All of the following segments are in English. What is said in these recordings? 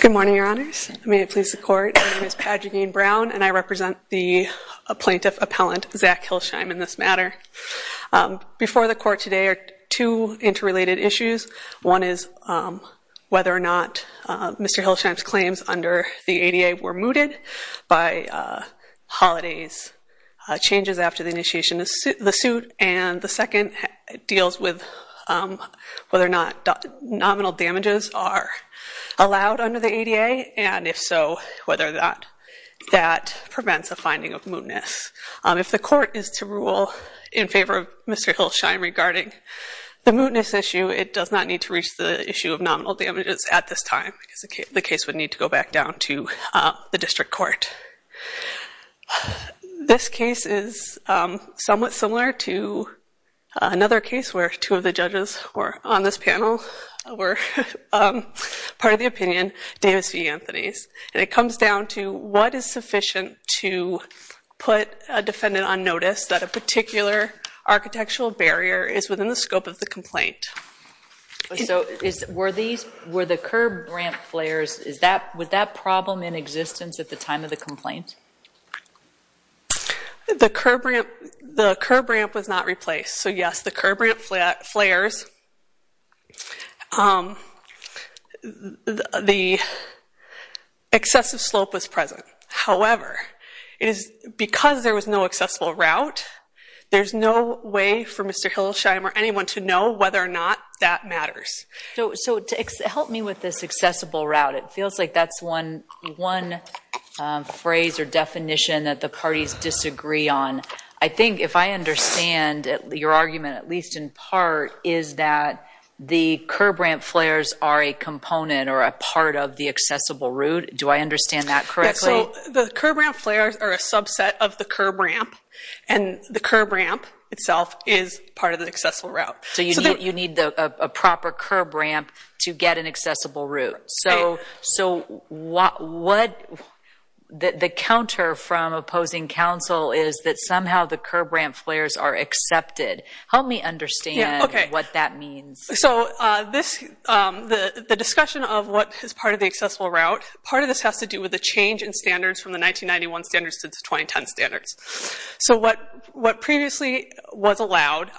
Good morning, Your Honors. May it please the Court, my name is Padrigaine Brown and I represent the plaintiff appellant, Zach Hillesheim, in this matter. Before the Court today are two interrelated issues. One is whether or not Mr. Hillesheim's claims under the ADA were mooted by Holiday's changes after the initiation of the suit, and the second deals with whether or not nominal damages are allowed under the ADA, and if so, whether or not that prevents a finding of mootness. If the Court is to rule in favor of Mr. Hillesheim regarding the mootness issue, it does not need to reach the issue of nominal damages at this time because the case would need to go back down to the district court. This case is somewhat similar to another case where two of the judges on this panel were part of the opinion, Davis v. Anthony's, and it comes down to what is sufficient to put a defendant on notice that a particular architectural barrier is within the scope of the complaint. So were the curb ramp flares, was that problem in existence at the time of the complaint? The curb ramp was not replaced, so yes, the curb ramp flares, the excessive slope was present. However, because there was no accessible route, there's no way for Mr. Hillesheim or anyone to know whether or not that matters. So to help me with this accessible route, it feels like that's one phrase or definition that the parties disagree on. I think if I understand your argument, at least in part, is that the curb ramp flares are a component or a part of the accessible route. Do I understand that correctly? So the curb ramp flares are a subset of the curb ramp, and the curb ramp itself is part of the accessible route. So you need a proper curb ramp to get an accessible route. So the counter from opposing counsel is that somehow the curb ramp flares are accepted. Help me understand what that means. So the discussion of what is part of the accessible route, part of this has to do with the change in standards from the 1991 standards to the 2010 standards. So what previously was allowed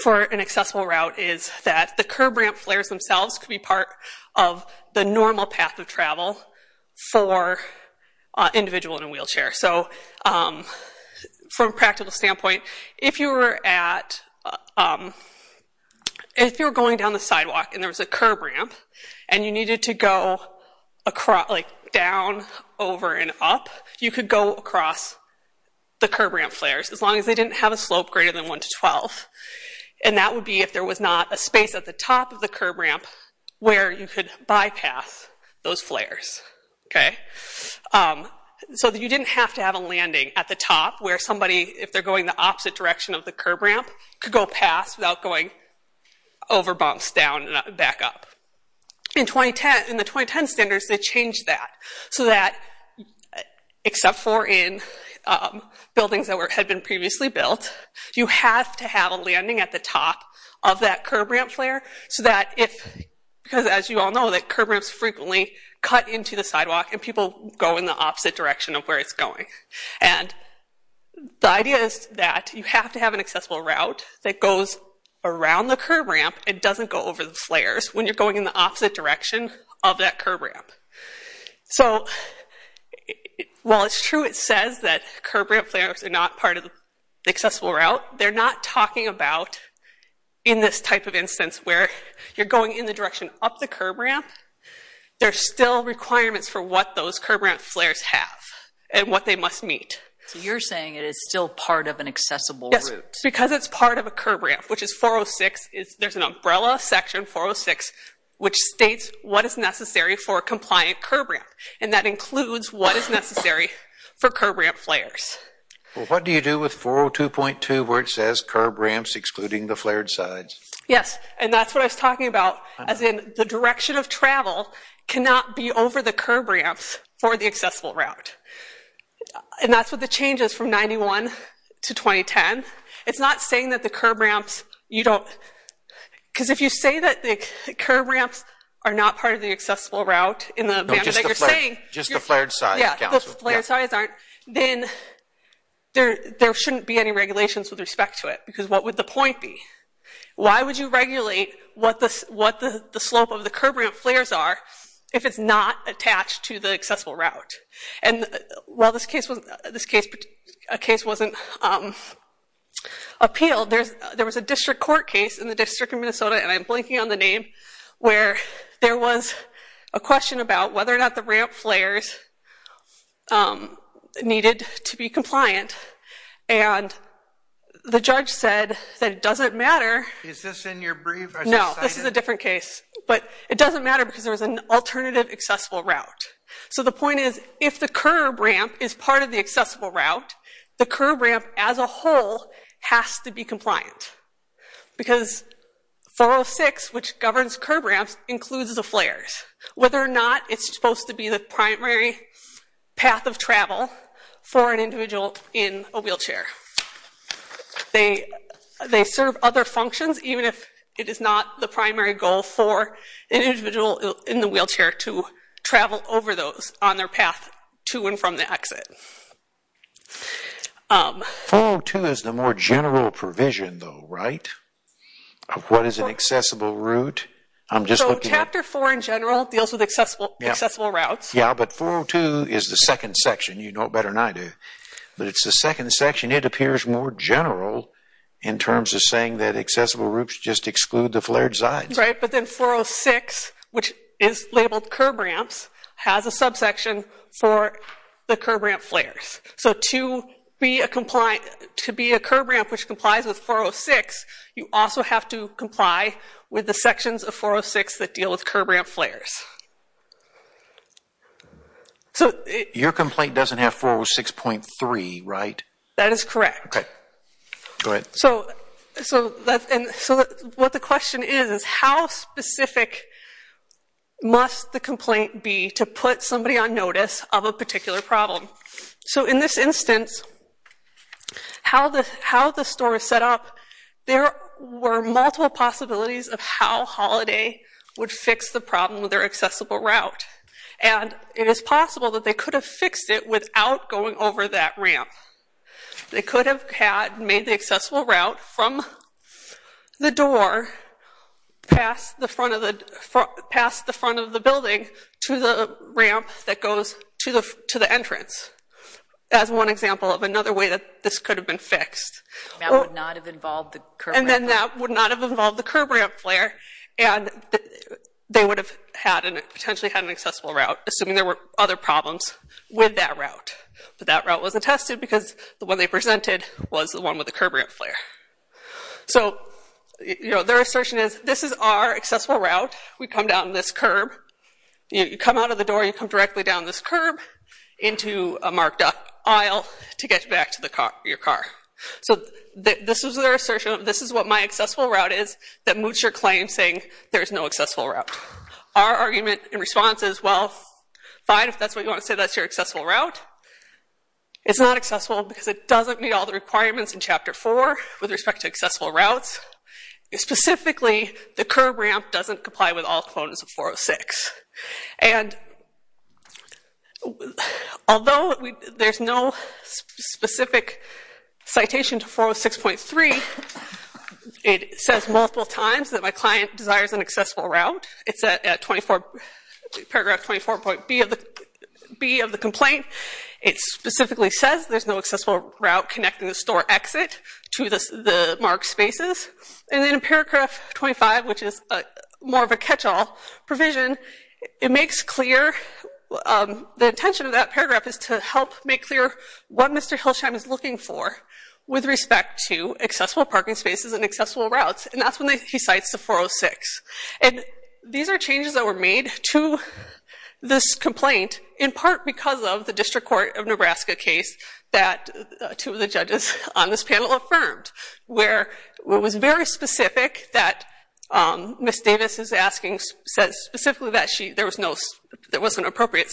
for an accessible route is that the curb ramp flares themselves could be part of the normal path of travel for an individual in a wheelchair. So from a practical standpoint, if you were going down the sidewalk and there was a curb ramp and you needed to go down, over, and up, you could go across the curb ramp flares as long as they didn't have a slope greater than 1 to 12. And that would be if there was not a space at the top of the curb ramp where you could bypass those flares. So you didn't have to have a landing at the top where somebody, if they're going the opposite direction of the curb ramp, could go past without going over bumps, down, and back up. In the 2010 standards, they changed that so that, except for in buildings that had been previously built, you have to have a landing at the top of that curb ramp flare so that if, because as you all know that curb ramps frequently cut into the sidewalk and people go in the opposite direction of where it's going. And the idea is that you have to have an accessible route that goes around the curb ramp and doesn't go over the flares when you're going in the opposite direction of that curb ramp. So while it's true it says that curb ramp flares are not part of the accessible route, they're not talking about in this type of instance where you're going in the direction up the curb ramp, there's still requirements for what those curb ramp flares have and what they must meet. So you're saying it is still part of an accessible route. Yes, because it's part of a curb ramp, which is 406, there's an umbrella section 406 which states what is necessary for a compliant curb ramp. And that includes what is necessary for curb ramp flares. What do you do with 402.2 where it says curb ramps excluding the flared sides? Yes, and that's what I was talking about. As in the direction of travel cannot be over the curb ramps for the accessible route. And that's what the change is from 91 to 2010. It's not saying that the curb ramps, you don't, because if you say that the curb ramps are not part of the accessible route in the manner that you're saying, Just the flared sides. Yeah, the flared sides aren't, then there shouldn't be any regulations with respect to it, because what would the point be? Why would you regulate what the slope of the curb ramp flares are if it's not attached to the accessible route? And while this case wasn't appealed, there was a district court case in the District of Minnesota, and I'm blanking on the name, where there was a question about whether or not it's supposed to be the primary path of travel for an individual in a wheelchair. They serve other functions, even if it is not the primary goal for an individual in the wheelchair to travel over those on their path to and from the exit. 402 is the more general provision, though, right? Of what is an accessible route? So, Chapter 4 in general deals with accessible routes. Yeah, but 402 is the second section. You know it better than I do. But it's the second section. It appears more general in terms of saying that accessible routes just exclude the flared sides. Right, but then 406, which is labeled curb ramps, has a subsection for the curb ramp flares. So, to be a curb ramp which complies with 406, you also have to comply with the Your complaint doesn't have 406.3, right? That is correct. Okay, go ahead. So, what the question is, is how specific must the complaint be to put somebody on notice of a particular problem? So, in this instance, how the store is set up, there were multiple possibilities of how Holiday would fix the problem with their accessible route. And it is possible that they could have fixed it without going over that ramp. They could have made the accessible route from the door past the front of the building to the ramp that goes to the entrance, as one example of another way that this could have been fixed. That would not have involved the curb ramp? And then that would not have involved the curb ramp flare, and they would have potentially had an accessible route, assuming there were other problems with that route. But that route wasn't tested because the one they presented was the one with the curb ramp flare. So, their assertion is, this is our accessible route. We come down this curb. You come out of the door, you come directly down this curb into a marked up aisle to get back to your car. So, this is their assertion, this is what my accessible route is that moots your claim, saying there's no accessible route. Our argument in response is, well, fine, if that's what you want to say, that's your accessible route. It's not accessible because it doesn't meet all the requirements in Chapter 4 with respect to accessible routes. Specifically, the curb ramp doesn't comply with all components of 406. And, although there's no specific citation to 406.3, it says multiple times that my client desires an accessible route. It's at paragraph 24.B of the complaint. It specifically says there's no accessible route connecting the store exit to the marked spaces. And then in paragraph 25, which is more of a catch-all provision, it makes clear, the intention of that paragraph is to help make clear what Mr. Hilsheim is looking for with respect to accessible parking spaces and accessible routes. And that's when he cites the 406. And these are changes that were made to this panel affirmed, where it was very specific that Ms. Davis is asking, says specifically that there was no, there wasn't appropriate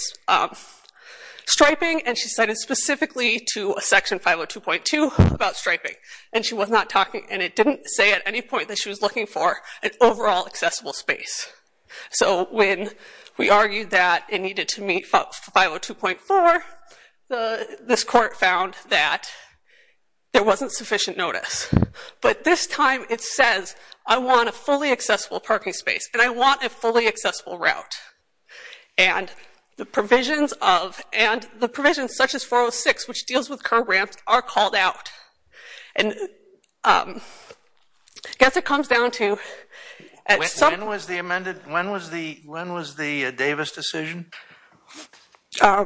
striping, and she cited specifically to Section 502.2 about striping. And she was not talking, and it didn't say at any point that she was looking for an overall accessible space. So when we argued that it needed to meet 502.4, this court found that there wasn't sufficient notice. But this time it says, I want a fully accessible parking space, and I want a fully accessible route. And the provisions of, and the provisions such as 406, which deals with curb ramps, are called out. And I guess it comes down to... When was the amended, when was the Davis decision? It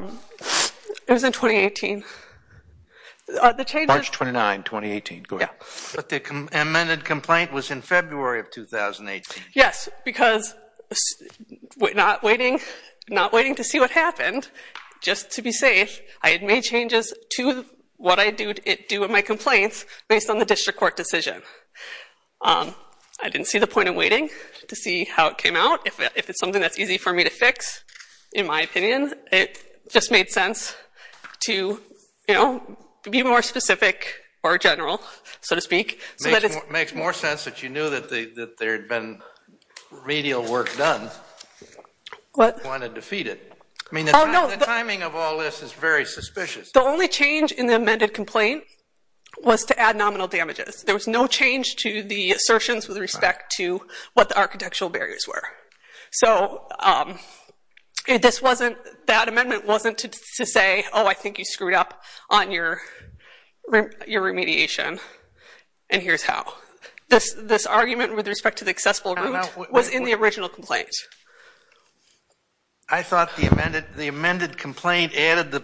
was in 2018. March 29, 2018, go ahead. But the amended complaint was in February of 2018. Yes, because not waiting to see what happened, just to be safe, I had made changes to what I do with my complaints based on the district court decision. I didn't see the point of waiting, to see how it came out. If it's something that's easy for me to fix, in my opinion, it just made sense to, you know, be more specific or general, so to speak. Makes more sense that you knew that there had been remedial work done. What? If you want to defeat it. I mean, the timing of all this is very suspicious. The only change in the amended complaint was to add nominal damages. There was no change to the assertions with respect to what the architectural barriers were. So, this wasn't, that amendment wasn't to say, oh, I think you screwed up on your remediation, and here's how. This argument with respect to the accessible route was in the original complaint. I thought the amended complaint added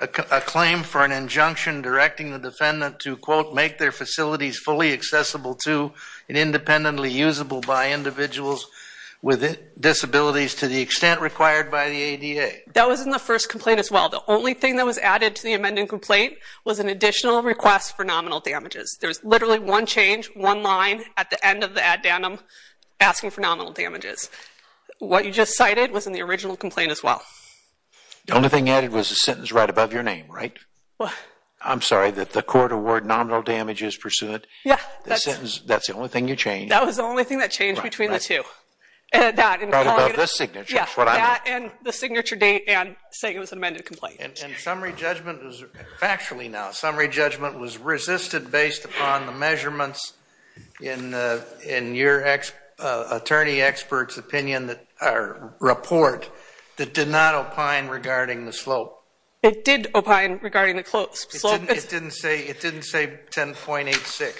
a claim for an injunction directing the defendant to, quote, make their facilities fully accessible to and independently usable by individuals with disabilities to the extent required by the ADA. That was in the first complaint as well. The only thing that was added to the amended complaint was an additional request for nominal damages. There was literally one change, one line, at the end of the addendum asking for nominal damages. What you just cited was in the original complaint as well. The only thing added was a sentence right above your name, right? I'm sorry, that the court awarded nominal damages pursuant? Yeah. The sentence, that's the only thing you changed? That was the only thing that changed between the two. Right above the signature, is what I mean. Yeah, that and the signature date and saying it was an amended complaint. And summary judgment was, factually now, summary judgment was resisted based upon the measurements in your attorney expert's opinion, or report, that did not opine regarding the slope. It did opine regarding the slope. It didn't say 10.86.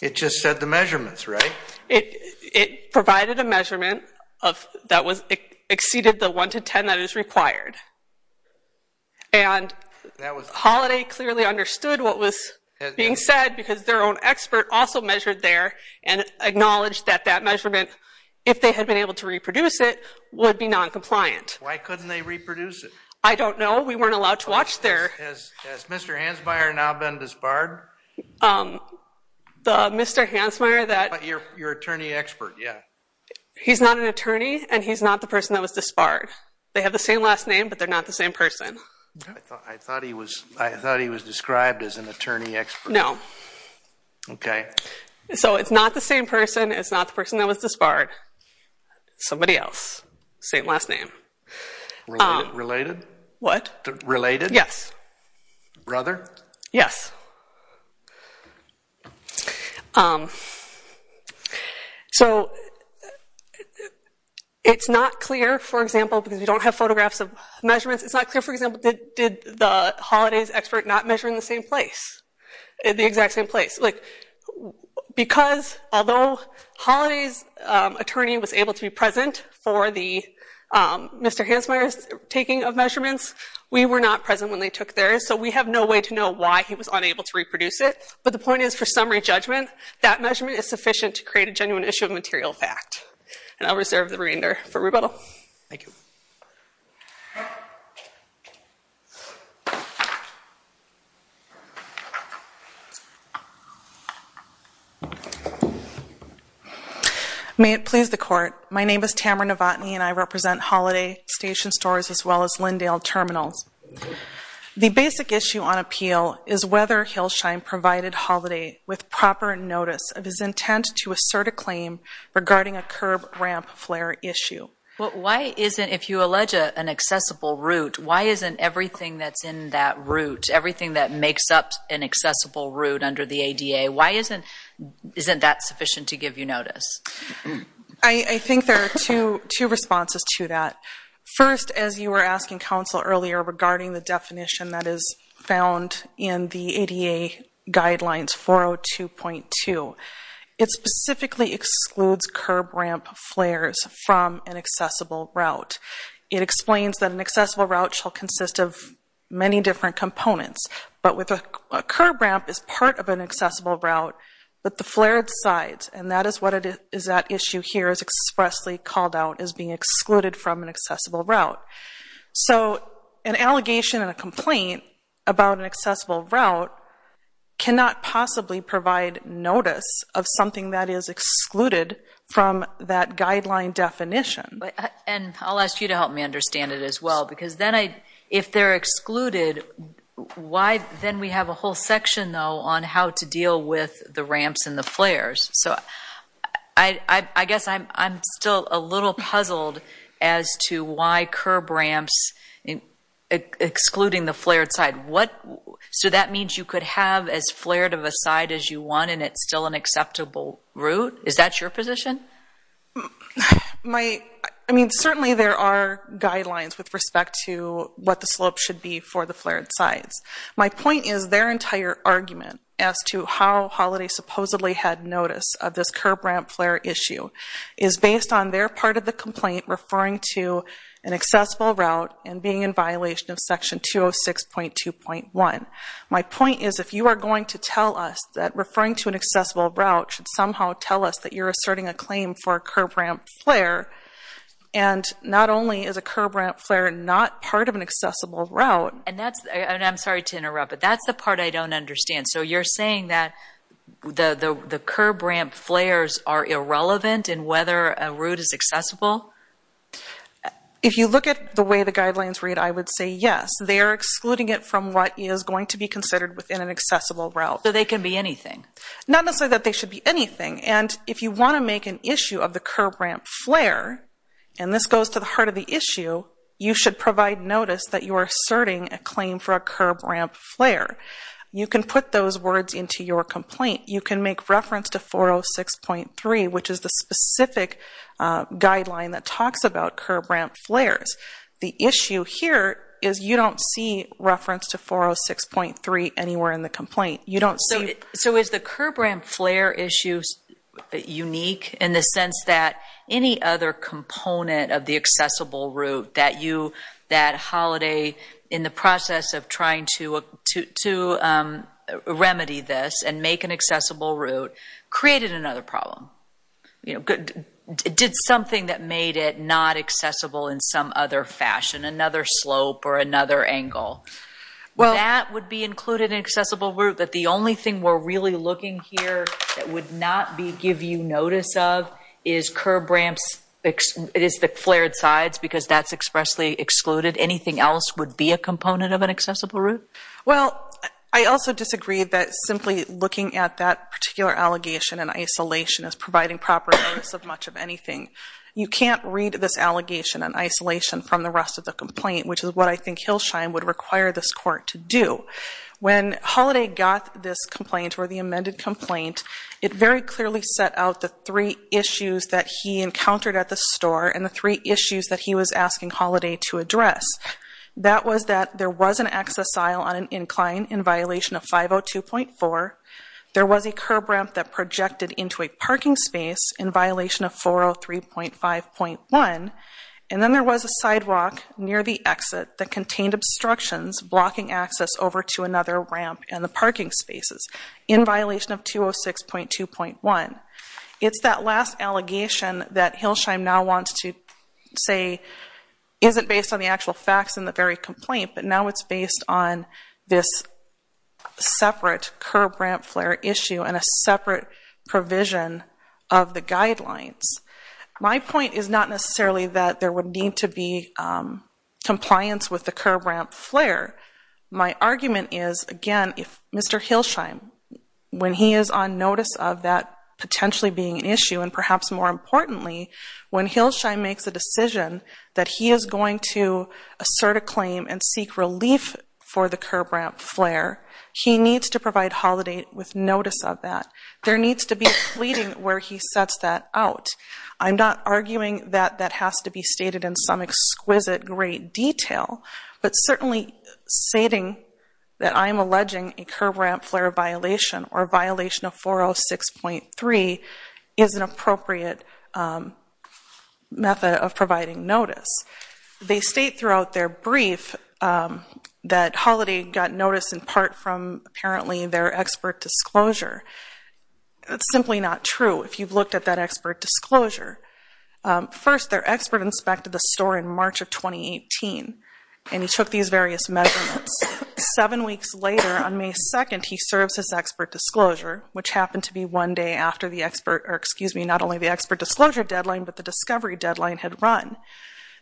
It just said the measurements, right? It provided a measurement that exceeded the 1 to 10 that is required. And Holiday clearly understood what was being said because their own expert also measured there and acknowledged that that measurement, if they had been able to reproduce it, would be non-compliant. Why couldn't they reproduce it? I don't know. We weren't allowed to watch their... Has Mr. Hansmeier now been disbarred? The Mr. Hansmeier that... Your attorney expert, yeah. He's not an attorney, and he's not the person that was disbarred. They have the same last name, but they're not the same person. I thought he was described as an attorney expert. No. Okay. So it's not the same person. It's not the person that was disbarred. Somebody else. Same last name. Related? What? Related? Yes. Brother? Yes. So it's not clear, for example, because we don't have photographs of measurements. It's not clear, for example, did the Holidays expert not measure in the same place, the exact same place. Because although Holiday's attorney was able to be present for the Mr. Hansmeier's taking of measurements, we were not present when they took theirs, so we have no way to know why he was unable to reproduce it. But the point is, for summary judgment, that measurement is sufficient to create a genuine issue of material fact. And I'll reserve the remainder for rebuttal. Thank you. May it please the Court. My name is Tamara Novotny, and I represent Holiday Station Stores as well as Lindale Terminals. The basic issue on appeal is whether Hillshine provided Holiday with proper notice of his intent to assert a claim regarding a curb ramp flare issue. Well, why isn't, if you allege an accessible route, why isn't everything that's in that route, everything that makes up an accessible route under the ADA, why isn't that sufficient to give you notice? I think there are two responses to that. First, as you were asking counsel earlier regarding the definition that is found in the ADA Guidelines 402.2, it specifically excludes curb ramp flares from an accessible route. It explains that an accessible route shall consist of many different components, but a curb ramp is part of an accessible route, but the flared sides, and that is what is at issue here, is expressly called out as being excluded from an accessible route. So an allegation and a complaint about an accessible route cannot possibly provide notice of something that is excluded from that guideline definition. And I'll ask you to help me understand it as well, because then I, if they're excluded, why then we have a whole section, though, on how to deal with the ramps and the flares. So I guess I'm still a little puzzled as to why curb ramps, excluding the flared side, what, so that means you could have as flared of a side as you want and it's still an acceptable route? Is that your position? My, I mean, certainly there are guidelines with respect to what the slope should be for the flared sides. My point is their entire argument as to how Holiday supposedly had notice of this curb ramp flare issue is based on their part of the complaint referring to an accessible route and being in violation of section 206.2.1. My point is if you are going to tell us that referring to an accessible route should somehow tell us that you're asserting a claim for a curb ramp flare, and not only is a curb ramp flare not part of an accessible route, And that's, and I'm sorry to interrupt, but that's the part I don't understand. So you're saying that the curb ramp flares are irrelevant in whether a route is accessible? If you look at the way the guidelines read, I would say yes. They are excluding it from what is going to be considered within an accessible route. So they can be anything? Not necessarily that they should be anything, and if you want to make an issue of the curb ramp flare, and this goes to the heart of the issue, you should provide notice that you are asserting a claim for a curb ramp flare. You can put those words into your complaint. You can make reference to 406.3, which is the specific guideline that talks about curb ramp flares. The issue here is you don't see reference to 406.3 anywhere in the complaint. So is the curb ramp flare issue unique in the sense that any other component of the accessible route that you, that Holiday, in the process of trying to remedy this and make an accessible route, created another problem? Did something that made it not accessible in some other fashion, another slope or another angle? That would be included in accessible route, but the only thing we're really looking here that would not give you notice of is curb ramps, is the flared sides, because that's expressly excluded. Anything else would be a component of an accessible route? Well, I also disagree that simply looking at that particular allegation in isolation is providing proper notice of much of anything. You can't read this allegation in isolation from the rest of the complaint, which is what I think Hillshine would require this court to do. When Holiday got this complaint, or the amended complaint, it very clearly set out the three issues that he encountered at the store and the three issues that he was asking Holiday to address. That was that there was an access aisle on an incline in violation of 502.4. There was a curb ramp that projected into a parking space in violation of 403.5.1. And then there was a sidewalk near the exit that contained obstructions blocking access over to another ramp and the parking spaces in violation of 206.2.1. It's that last allegation that Hillshine now wants to say isn't based on the actual facts in the very complaint, but now it's based on this separate curb ramp flare issue and a separate provision of the guidelines. My point is not necessarily that there would need to be compliance with the curb ramp flare. My argument is, again, if Mr. Hillshine, when he is on notice of that potentially being an issue, and perhaps more importantly, when Hillshine makes a decision that he is going to assert a claim and seek relief for the curb ramp flare, he needs to provide Holiday with notice of that. There needs to be a pleading where he sets that out. I'm not arguing that that has to be stated in some exquisite, great detail, but certainly stating that I'm alleging a curb ramp flare violation or violation of 406.3 is an appropriate method of providing notice. They state throughout their brief that Holiday got notice in part from, apparently, their expert disclosure. That's simply not true if you've looked at that expert disclosure. First, their expert inspected the store in March of 2018, and he took these various measurements. Seven weeks later, on May 2nd, he serves his expert disclosure, which happened to be one day after not only the expert disclosure deadline, but the discovery deadline had run.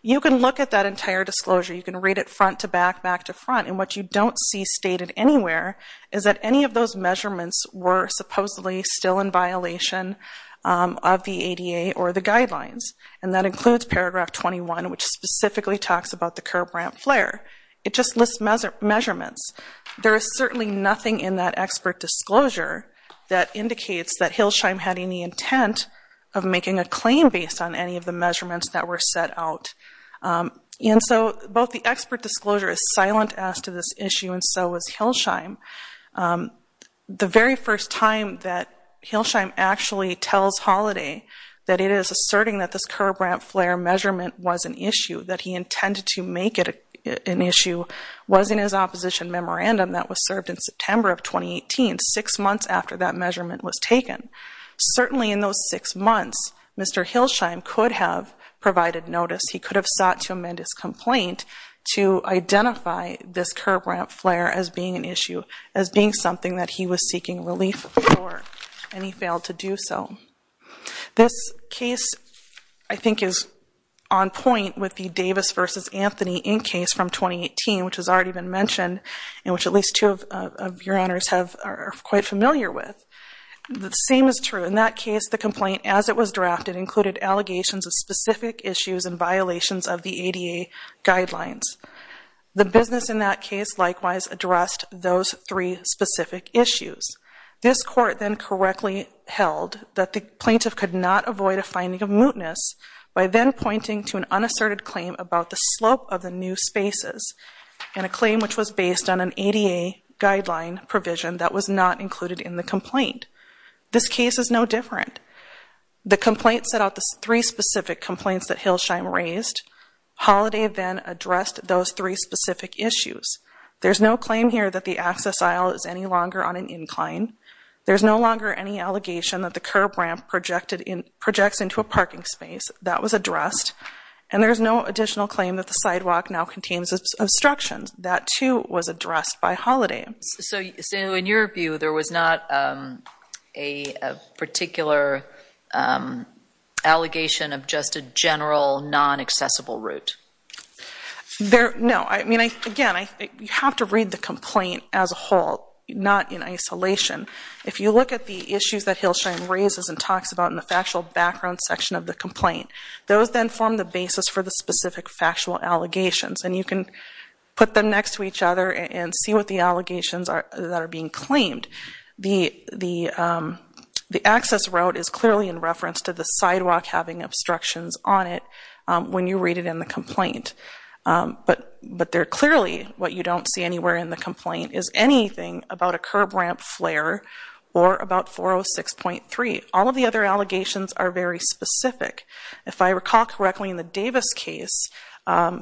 You can look at that entire disclosure. You can read it front to back, back to front, and what you don't see stated anywhere is that any of those measurements were supposedly still in violation of the ADA or the guidelines, and that includes paragraph 21, which specifically talks about the curb ramp flare. It just lists measurements. There is certainly nothing in that expert disclosure that indicates that Hilsheim had any intent of making a claim based on any of the measurements that were set out. And so both the expert disclosure is silent as to this issue, and so is Hilsheim. The very first time that Hilsheim actually tells Holiday that it is asserting that this curb ramp flare measurement was an issue, that he intended to make it an issue, was in his opposition memorandum that was served in September of 2018, certainly in those six months, Mr. Hilsheim could have provided notice. He could have sought to amend his complaint to identify this curb ramp flare as being an issue, as being something that he was seeking relief for, and he failed to do so. This case, I think, is on point with the Davis v. Anthony Inc. case from 2018, which has already been mentioned and which at least two of your honors are quite familiar with. The same is true. In that case, the complaint as it was drafted included allegations of specific issues and violations of the ADA guidelines. The business in that case likewise addressed those three specific issues. This court then correctly held that the plaintiff could not avoid a finding of mootness by then pointing to an unasserted claim about the slope of the new spaces and a claim which was based on an ADA guideline provision that was not included in the complaint. This case is no different. The complaint set out the three specific complaints that Hilsheim raised. Holliday then addressed those three specific issues. There's no claim here that the access aisle is any longer on an incline. There's no longer any allegation that the curb ramp projects into a parking space. That was addressed. And there's no additional claim that the sidewalk now contains obstructions. That, too, was addressed by Holliday. So in your view, there was not a particular allegation of just a general non-accessible route? No. I mean, again, you have to read the complaint as a whole, not in isolation. If you look at the issues that Hilsheim raises and talks about in the factual background section of the complaint, those then form the basis for the specific factual allegations. And you can put them next to each other and see what the allegations that are being claimed. The access route is clearly in reference to the sidewalk having obstructions on it when you read it in the complaint. But clearly what you don't see anywhere in the complaint is anything about a curb ramp flare or about 406.3. All of the other allegations are very specific. If I recall correctly in the Davis case, and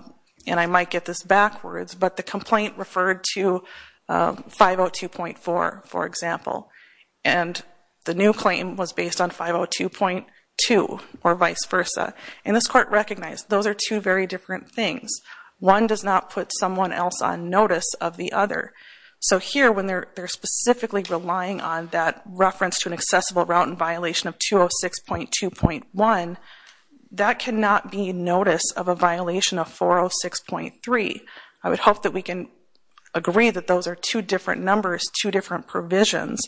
I might get this backwards, but the complaint referred to 502.4, for example, and the new claim was based on 502.2 or vice versa. And this court recognized those are two very different things. One does not put someone else on notice of the other. So here when they're specifically relying on that reference to an accessible route in violation of 206.2.1, that cannot be notice of a violation of 406.3. I would hope that we can agree that those are two different numbers, two different provisions.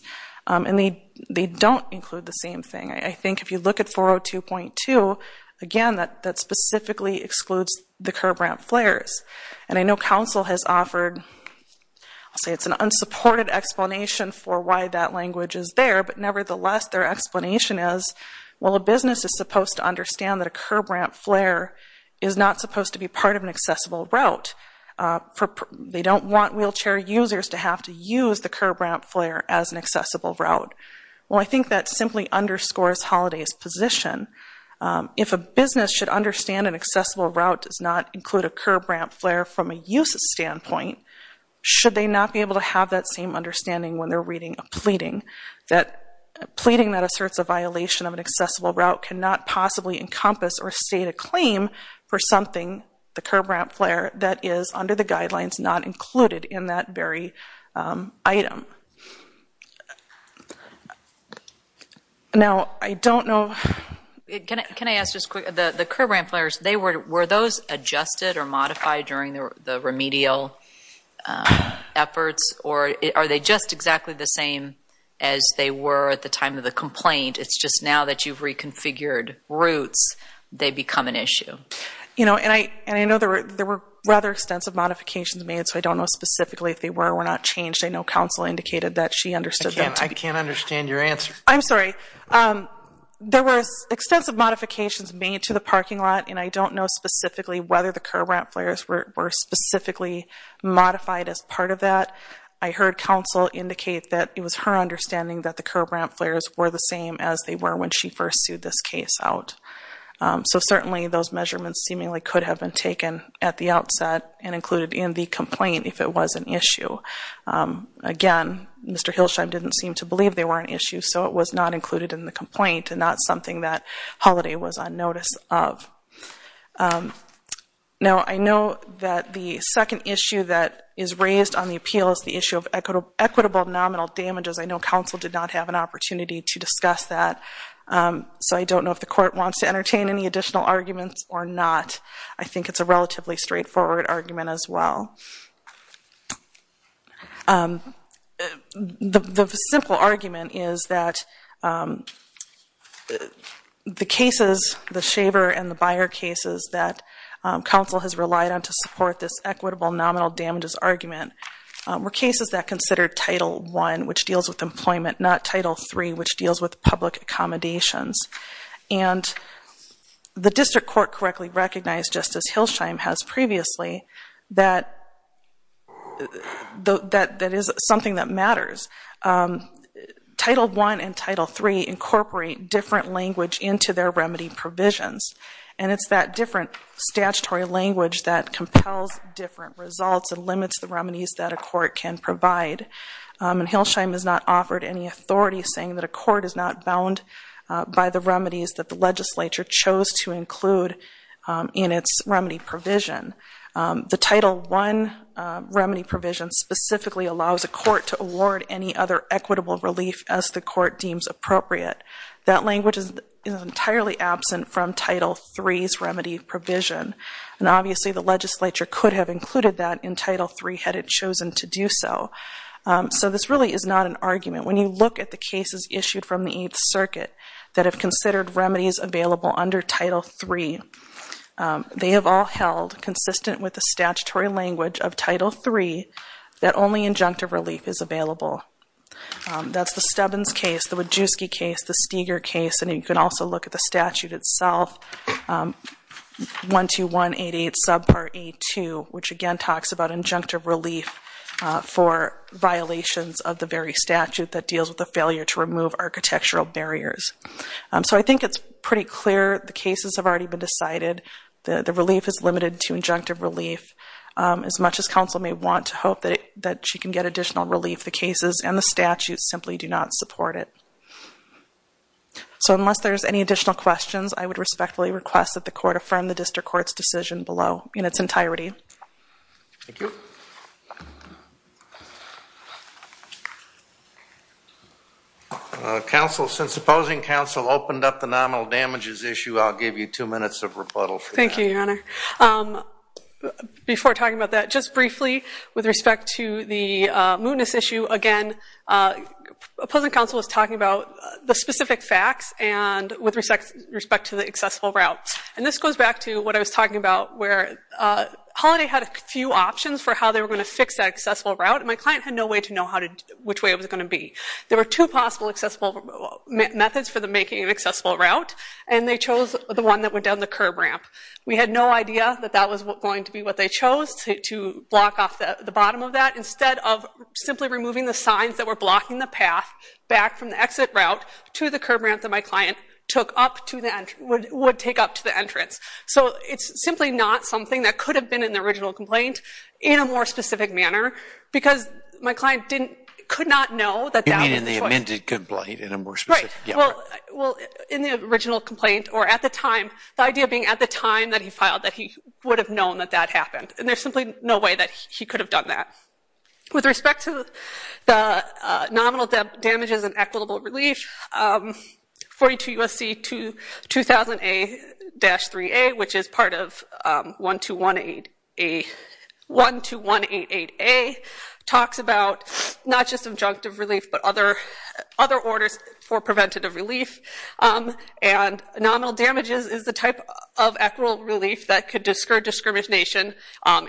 And they don't include the same thing. I think if you look at 402.2, again, that specifically excludes the curb ramp flares. And I know counsel has offered, I'll say it's an unsupported explanation for why that language is there, but nevertheless their explanation is, well, a business is supposed to understand that a curb ramp flare is not supposed to be part of an accessible route. They don't want wheelchair users to have to use the curb ramp flare as an accessible route. Well, I think that simply underscores Holliday's position. If a business should understand an accessible route does not include a curb ramp flare from a uses standpoint, should they not be able to have that same understanding when they're reading a pleading? A pleading that asserts a violation of an accessible route cannot possibly encompass or state a claim for something, the curb ramp flare, that is under the guidelines not included in that very item. Now, I don't know. Can I ask just quickly, the curb ramp flares, were those adjusted or modified during the remedial efforts? Or are they just exactly the same as they were at the time of the complaint? It's just now that you've reconfigured routes, they become an issue. And I know there were rather extensive modifications made, so I don't know specifically if they were or were not changed. I know counsel indicated that she understood that. I can't understand your answer. I'm sorry. There were extensive modifications made to the parking lot, and I don't know specifically whether the curb ramp flares were specifically modified as part of that. I heard counsel indicate that it was her understanding that the curb ramp flares were the same as they were when she first sued this case out. So certainly those measurements seemingly could have been taken at the outset and included in the complaint if it was an issue. Again, Mr. Hilsheim didn't seem to believe they were an issue, so it was not included in the complaint and not something that Holliday was on notice of. Now, I know that the second issue that is raised on the appeal is the issue of equitable nominal damages. I know counsel did not have an opportunity to discuss that, so I don't know if the court wants to entertain any additional arguments or not. I think it's a relatively straightforward argument as well. The simple argument is that the cases, the Shaver and the Byer cases, that counsel has relied on to support this equitable nominal damages argument were cases that considered Title I, which deals with employment, not Title III, which deals with public accommodations. And the district court correctly recognized, just as Hilsheim has previously, that that is something that matters. Title I and Title III incorporate different language into their remedy provisions, and it's that different statutory language that compels different results and limits the remedies that a court can provide. And Hilsheim has not offered any authority saying that a court is not bound by the remedies that the legislature chose to include in its remedy provision. The Title I remedy provision specifically allows a court to award any other equitable relief as the court deems appropriate. That language is entirely absent from Title III's remedy provision. And obviously the legislature could have included that in Title III had it chosen to do so. So this really is not an argument. When you look at the cases issued from the Eighth Circuit that have considered remedies available under Title III, they have all held consistent with the statutory language of Title III that only injunctive relief is available. That's the Stubbins case, the Wadjuski case, the Steger case, and you can also look at the statute itself, 12188 subpart A2, which again talks about injunctive relief for violations of the very statute that deals with the failure to remove architectural barriers. So I think it's pretty clear the cases have already been decided. The relief is limited to injunctive relief. As much as counsel may want to hope that you can get additional relief, the cases and the statute simply do not support it. So unless there's any additional questions, I would respectfully request that the court affirm the district court's decision below in its entirety. Thank you. Counsel, since opposing counsel opened up the nominal damages issue, I'll give you two minutes of rebuttal for that. Thank you, Your Honor. Before talking about that, just briefly with respect to the mootness issue, again, opposing counsel was talking about the specific facts and with respect to the accessible route. And this goes back to what I was talking about where Holiday had a few options for how they were going to fix that accessible route, and my client had no way to know which way it was going to be. There were two possible accessible methods for making an accessible route, and they chose the one that went down the curb ramp. We had no idea that that was going to be what they chose to block off the bottom of that. Instead of simply removing the signs that were blocking the path back from the exit route to the curb ramp that my client would take up to the entrance. So it's simply not something that could have been in the original complaint in a more specific manner because my client could not know that that was the choice. You mean in the amended complaint in a more specific manner? Right. Well, in the original complaint or at the time, the idea being at the time that he filed that he would have known that that happened, and there's simply no way that he could have done that. With respect to the nominal damages and equitable relief, 42 U.S.C. 2000A-3A, which is part of 12188A, talks about not just objective relief but other orders for preventative relief. And nominal damages is the type of equitable relief that could discourage discrimination,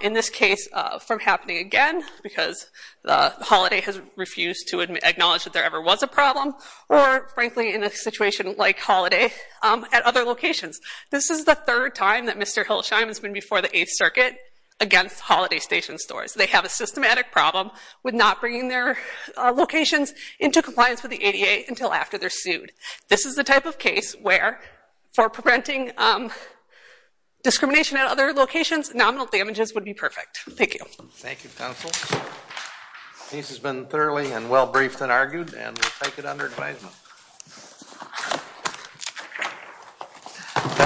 in this case, from happening again because Holiday has refused to acknowledge that there ever was a problem or, frankly, in a situation like Holiday at other locations. This is the third time that Mr. Hilsheim has been before the Eighth Circuit against Holiday Station stores. They have a systematic problem with not bringing their locations into compliance with the ADA until after they're sued. This is the type of case where, for preventing discrimination at other locations, nominal damages would be perfect. Thank you. Thank you, counsel. This has been thoroughly and well-briefed and argued, and we'll take it under advisement.